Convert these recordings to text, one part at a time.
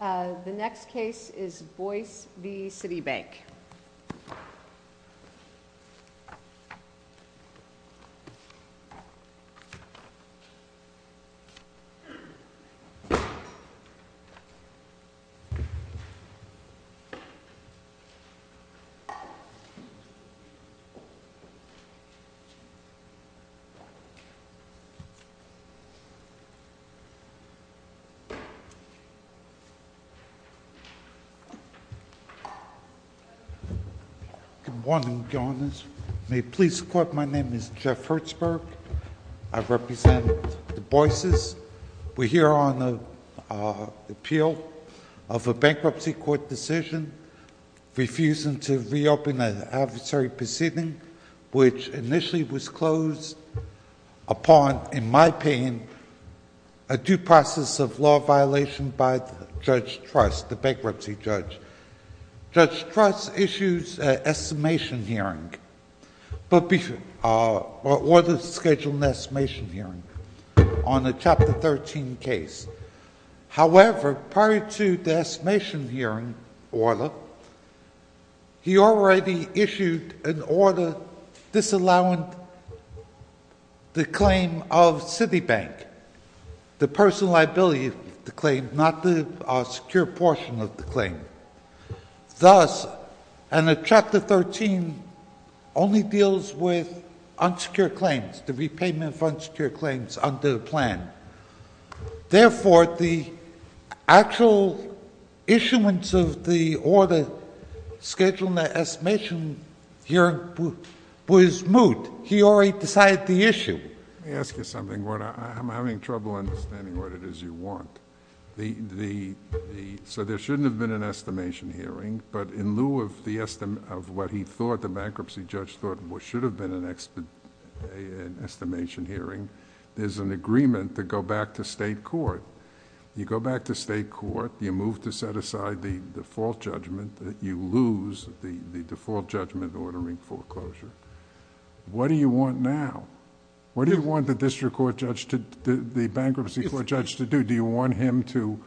The next case is Boyce v. Citibank. Good morning, Your Honors. May it please the Court, my name is Jeff Hertzberg. I represent the Boyces. We're here on the appeal of a bankruptcy court decision, refusing to reopen an adversary proceeding, which initially was closed upon, in my opinion, a due process of law violation by Judge Truss, the bankruptcy judge. Judge Truss issued an estimation hearing, ordered to schedule an estimation hearing on a Chapter 13 case. However, prior to the estimation hearing order, he already issued an order disallowing the claim of Citibank, the personal liability of the claim, not the secure portion of the claim. Thus, a Chapter 13 only deals with unsecure claims, the repayment of unsecure claims under the plan. Therefore, the actual issuance of the order scheduling the estimation hearing was moot. He already decided the issue. Let me ask you something, Gordon. I'm having trouble understanding what it is you want. So there shouldn't have been an estimation hearing, but in lieu of what he thought the bankruptcy judge thought should have been an estimation hearing, there's an agreement to go back to state court. You go back to state court. You move to set aside the default judgment. You lose the default judgment ordering foreclosure. What do you want now? What do you want the bankruptcy court judge to do? Do you want him to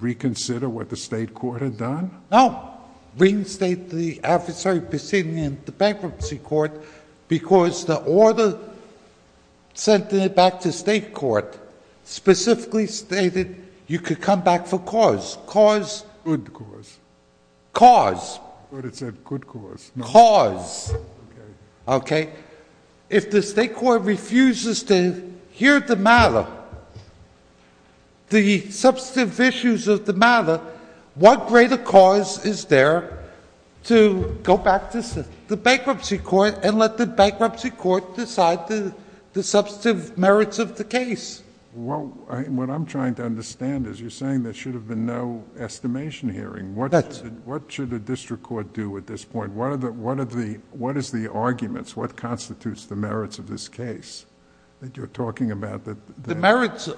reconsider what the state court had done? No. Reinstate the adversary proceeding in the bankruptcy court because the order sent back to state court specifically stated you could come back for cause. Cause. Good cause. Cause. But it said good cause. Cause. Okay. If the state court refuses to hear the matter, the substantive issues of the matter, what greater cause is there to go back to the bankruptcy court and let the bankruptcy court decide the substantive merits of the case? What I'm trying to understand is you're saying there should have been no estimation hearing. That's it. What constitutes the merits of this case that you're talking about? The merits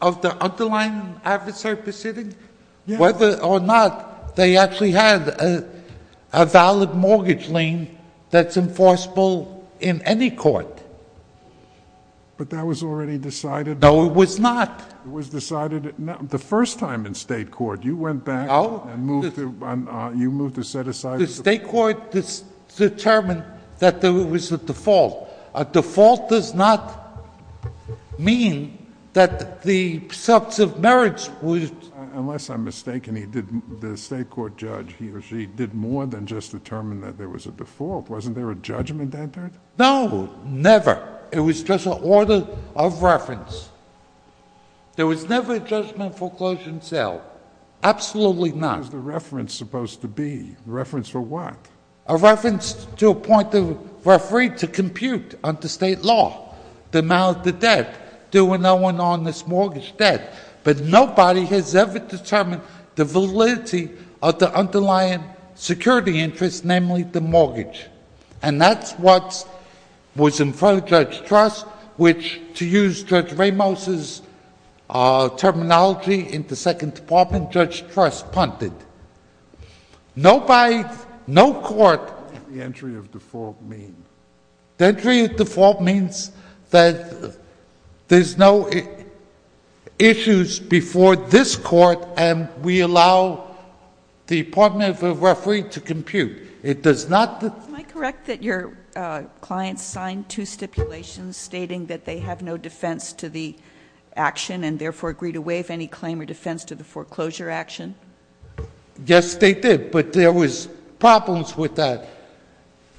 of the underlying adversary proceeding? Yeah. Whether or not they actually had a valid mortgage lien that's enforceable in any court. But that was already decided. No, it was not. It was decided the first time in state court. You went back. No. You moved to set aside. The state court determined that there was a default. A default does not mean that the substantive merits would. Unless I'm mistaken, the state court judge, he or she, did more than just determine that there was a default. Wasn't there a judgment entered? No. Never. It was just an order of reference. There was never a judgment for closure and sale. Absolutely not. What was the reference supposed to be? The reference for what? A reference to appoint the referee to compute under state law the amount of the debt. There were no one on this mortgage debt. But nobody has ever determined the validity of the underlying security interest, namely the mortgage. And that's what was in front of Judge Truss, which, to use Judge Ramos' terminology in the Second Department, Judge Truss punted. No court. What does the entry of default mean? The entry of default means that there's no issues before this court, and we allow the appointment of a referee to compute. Am I correct that your clients signed two stipulations stating that they have no defense to the action and therefore agreed to waive any claim or defense to the foreclosure action? Yes, they did. But there was problems with that.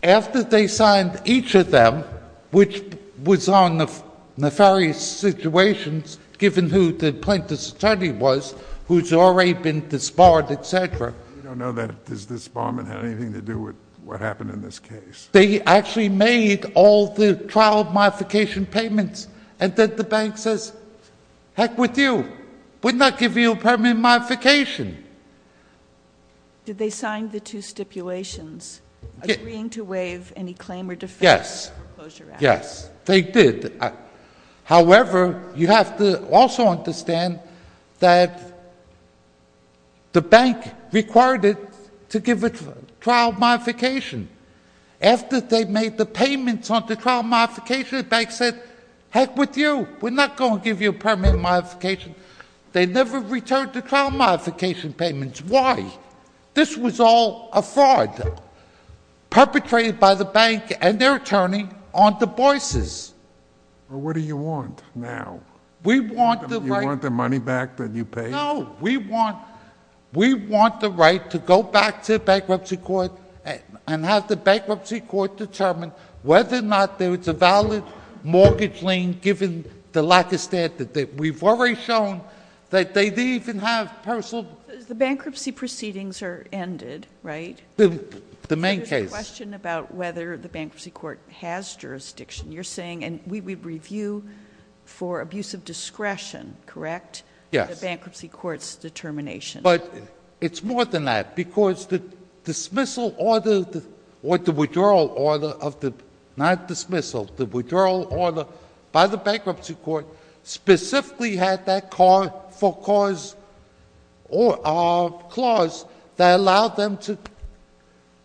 After they signed each of them, which was on the various situations, given who the plaintiff's attorney was, who's already been disbarred, et cetera. We don't know that this disbarment had anything to do with what happened in this case. They actually made all the trial modification payments. And then the bank says, heck with you. We're not giving you a permanent modification. Did they sign the two stipulations agreeing to waive any claim or defense to the foreclosure action? Yes, yes, they did. However, you have to also understand that the bank required it to give a trial modification. After they made the payments on the trial modification, the bank said, heck with you. We're not going to give you a permanent modification. They never returned the trial modification payments. Why? This was all a fraud perpetrated by the bank and their attorney on Du Bois's. What do you want now? We want the right— You want the money back that you paid? No. We want the right to go back to the bankruptcy court and have the bankruptcy court determine whether or not there was a valid mortgage lien given the lack of standard. We've already shown that they didn't even have personal— Well, the bankruptcy proceedings are ended, right? The main case— There's a question about whether the bankruptcy court has jurisdiction. You're saying—and we would review for abuse of discretion, correct? Yes. The bankruptcy court's determination. But it's more than that because the dismissal order or the withdrawal order of the—not dismissal—the withdrawal order by the bankruptcy court specifically had that for cause clause that allowed them to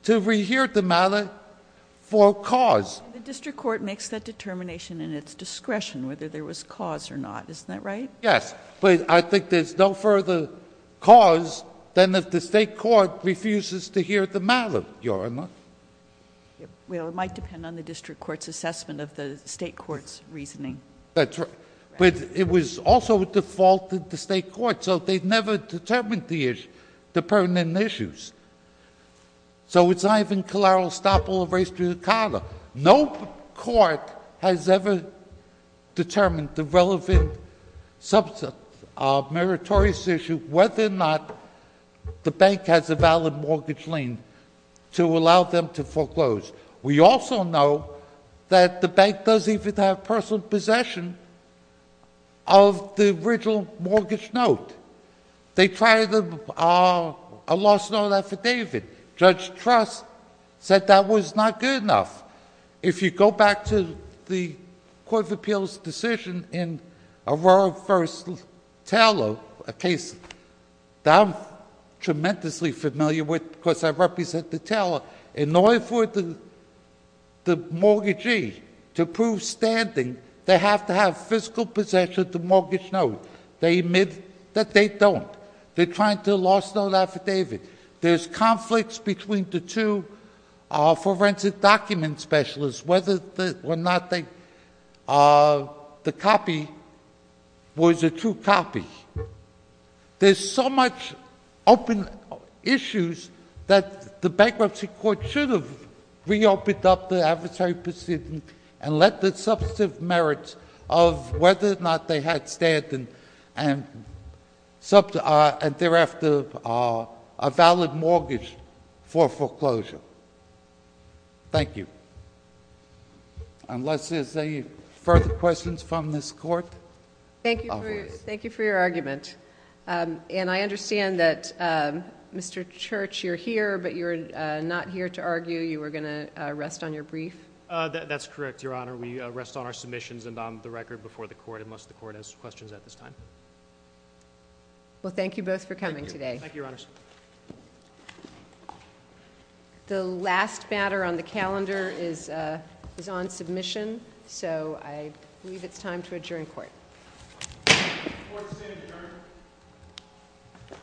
rehear the matter for cause. The district court makes that determination in its discretion whether there was cause or not. Isn't that right? Yes. But I think there's no further cause than if the state court refuses to hear the matter, Your Honor. Well, it might depend on the district court's assessment of the state court's reasoning. That's right. But it was also defaulted to state court, so they never determined the issues, the pertinent issues. So it's not even collateral estoppel of race to the condo. No court has ever determined the relevant substantive meritorious issue whether or not the bank has a valid mortgage lien to allow them to foreclose. We also know that the bank doesn't even have personal possession of the original mortgage note. They tried a lost note affidavit. Judge Truss said that was not good enough. If you go back to the Court of Appeals' decision in Aurora v. Taylor, a case that I'm tremendously familiar with because I represent the Taylor, in order for the mortgagee to prove standing, they have to have physical possession of the mortgage note. They admit that they don't. They're trying to lost note affidavit. There's conflicts between the two forensic document specialists whether or not the copy was a true copy. There's so much open issues that the bankruptcy court should have reopened up the adversary proceeding and let the substantive merits of whether or not they had standing and thereafter a valid mortgage for foreclosure. Thank you. Unless there's any further questions from this Court? Thank you for your argument. And I understand that, Mr. Church, you're here, but you're not here to argue. You were going to rest on your brief. That's correct, Your Honor. We rest on our submissions and on the record before the Court unless the Court has questions at this time. Well, thank you both for coming today. Thank you, Your Honor. The last matter on the calendar is on submission, so I believe it's time to adjourn court. Court is adjourned.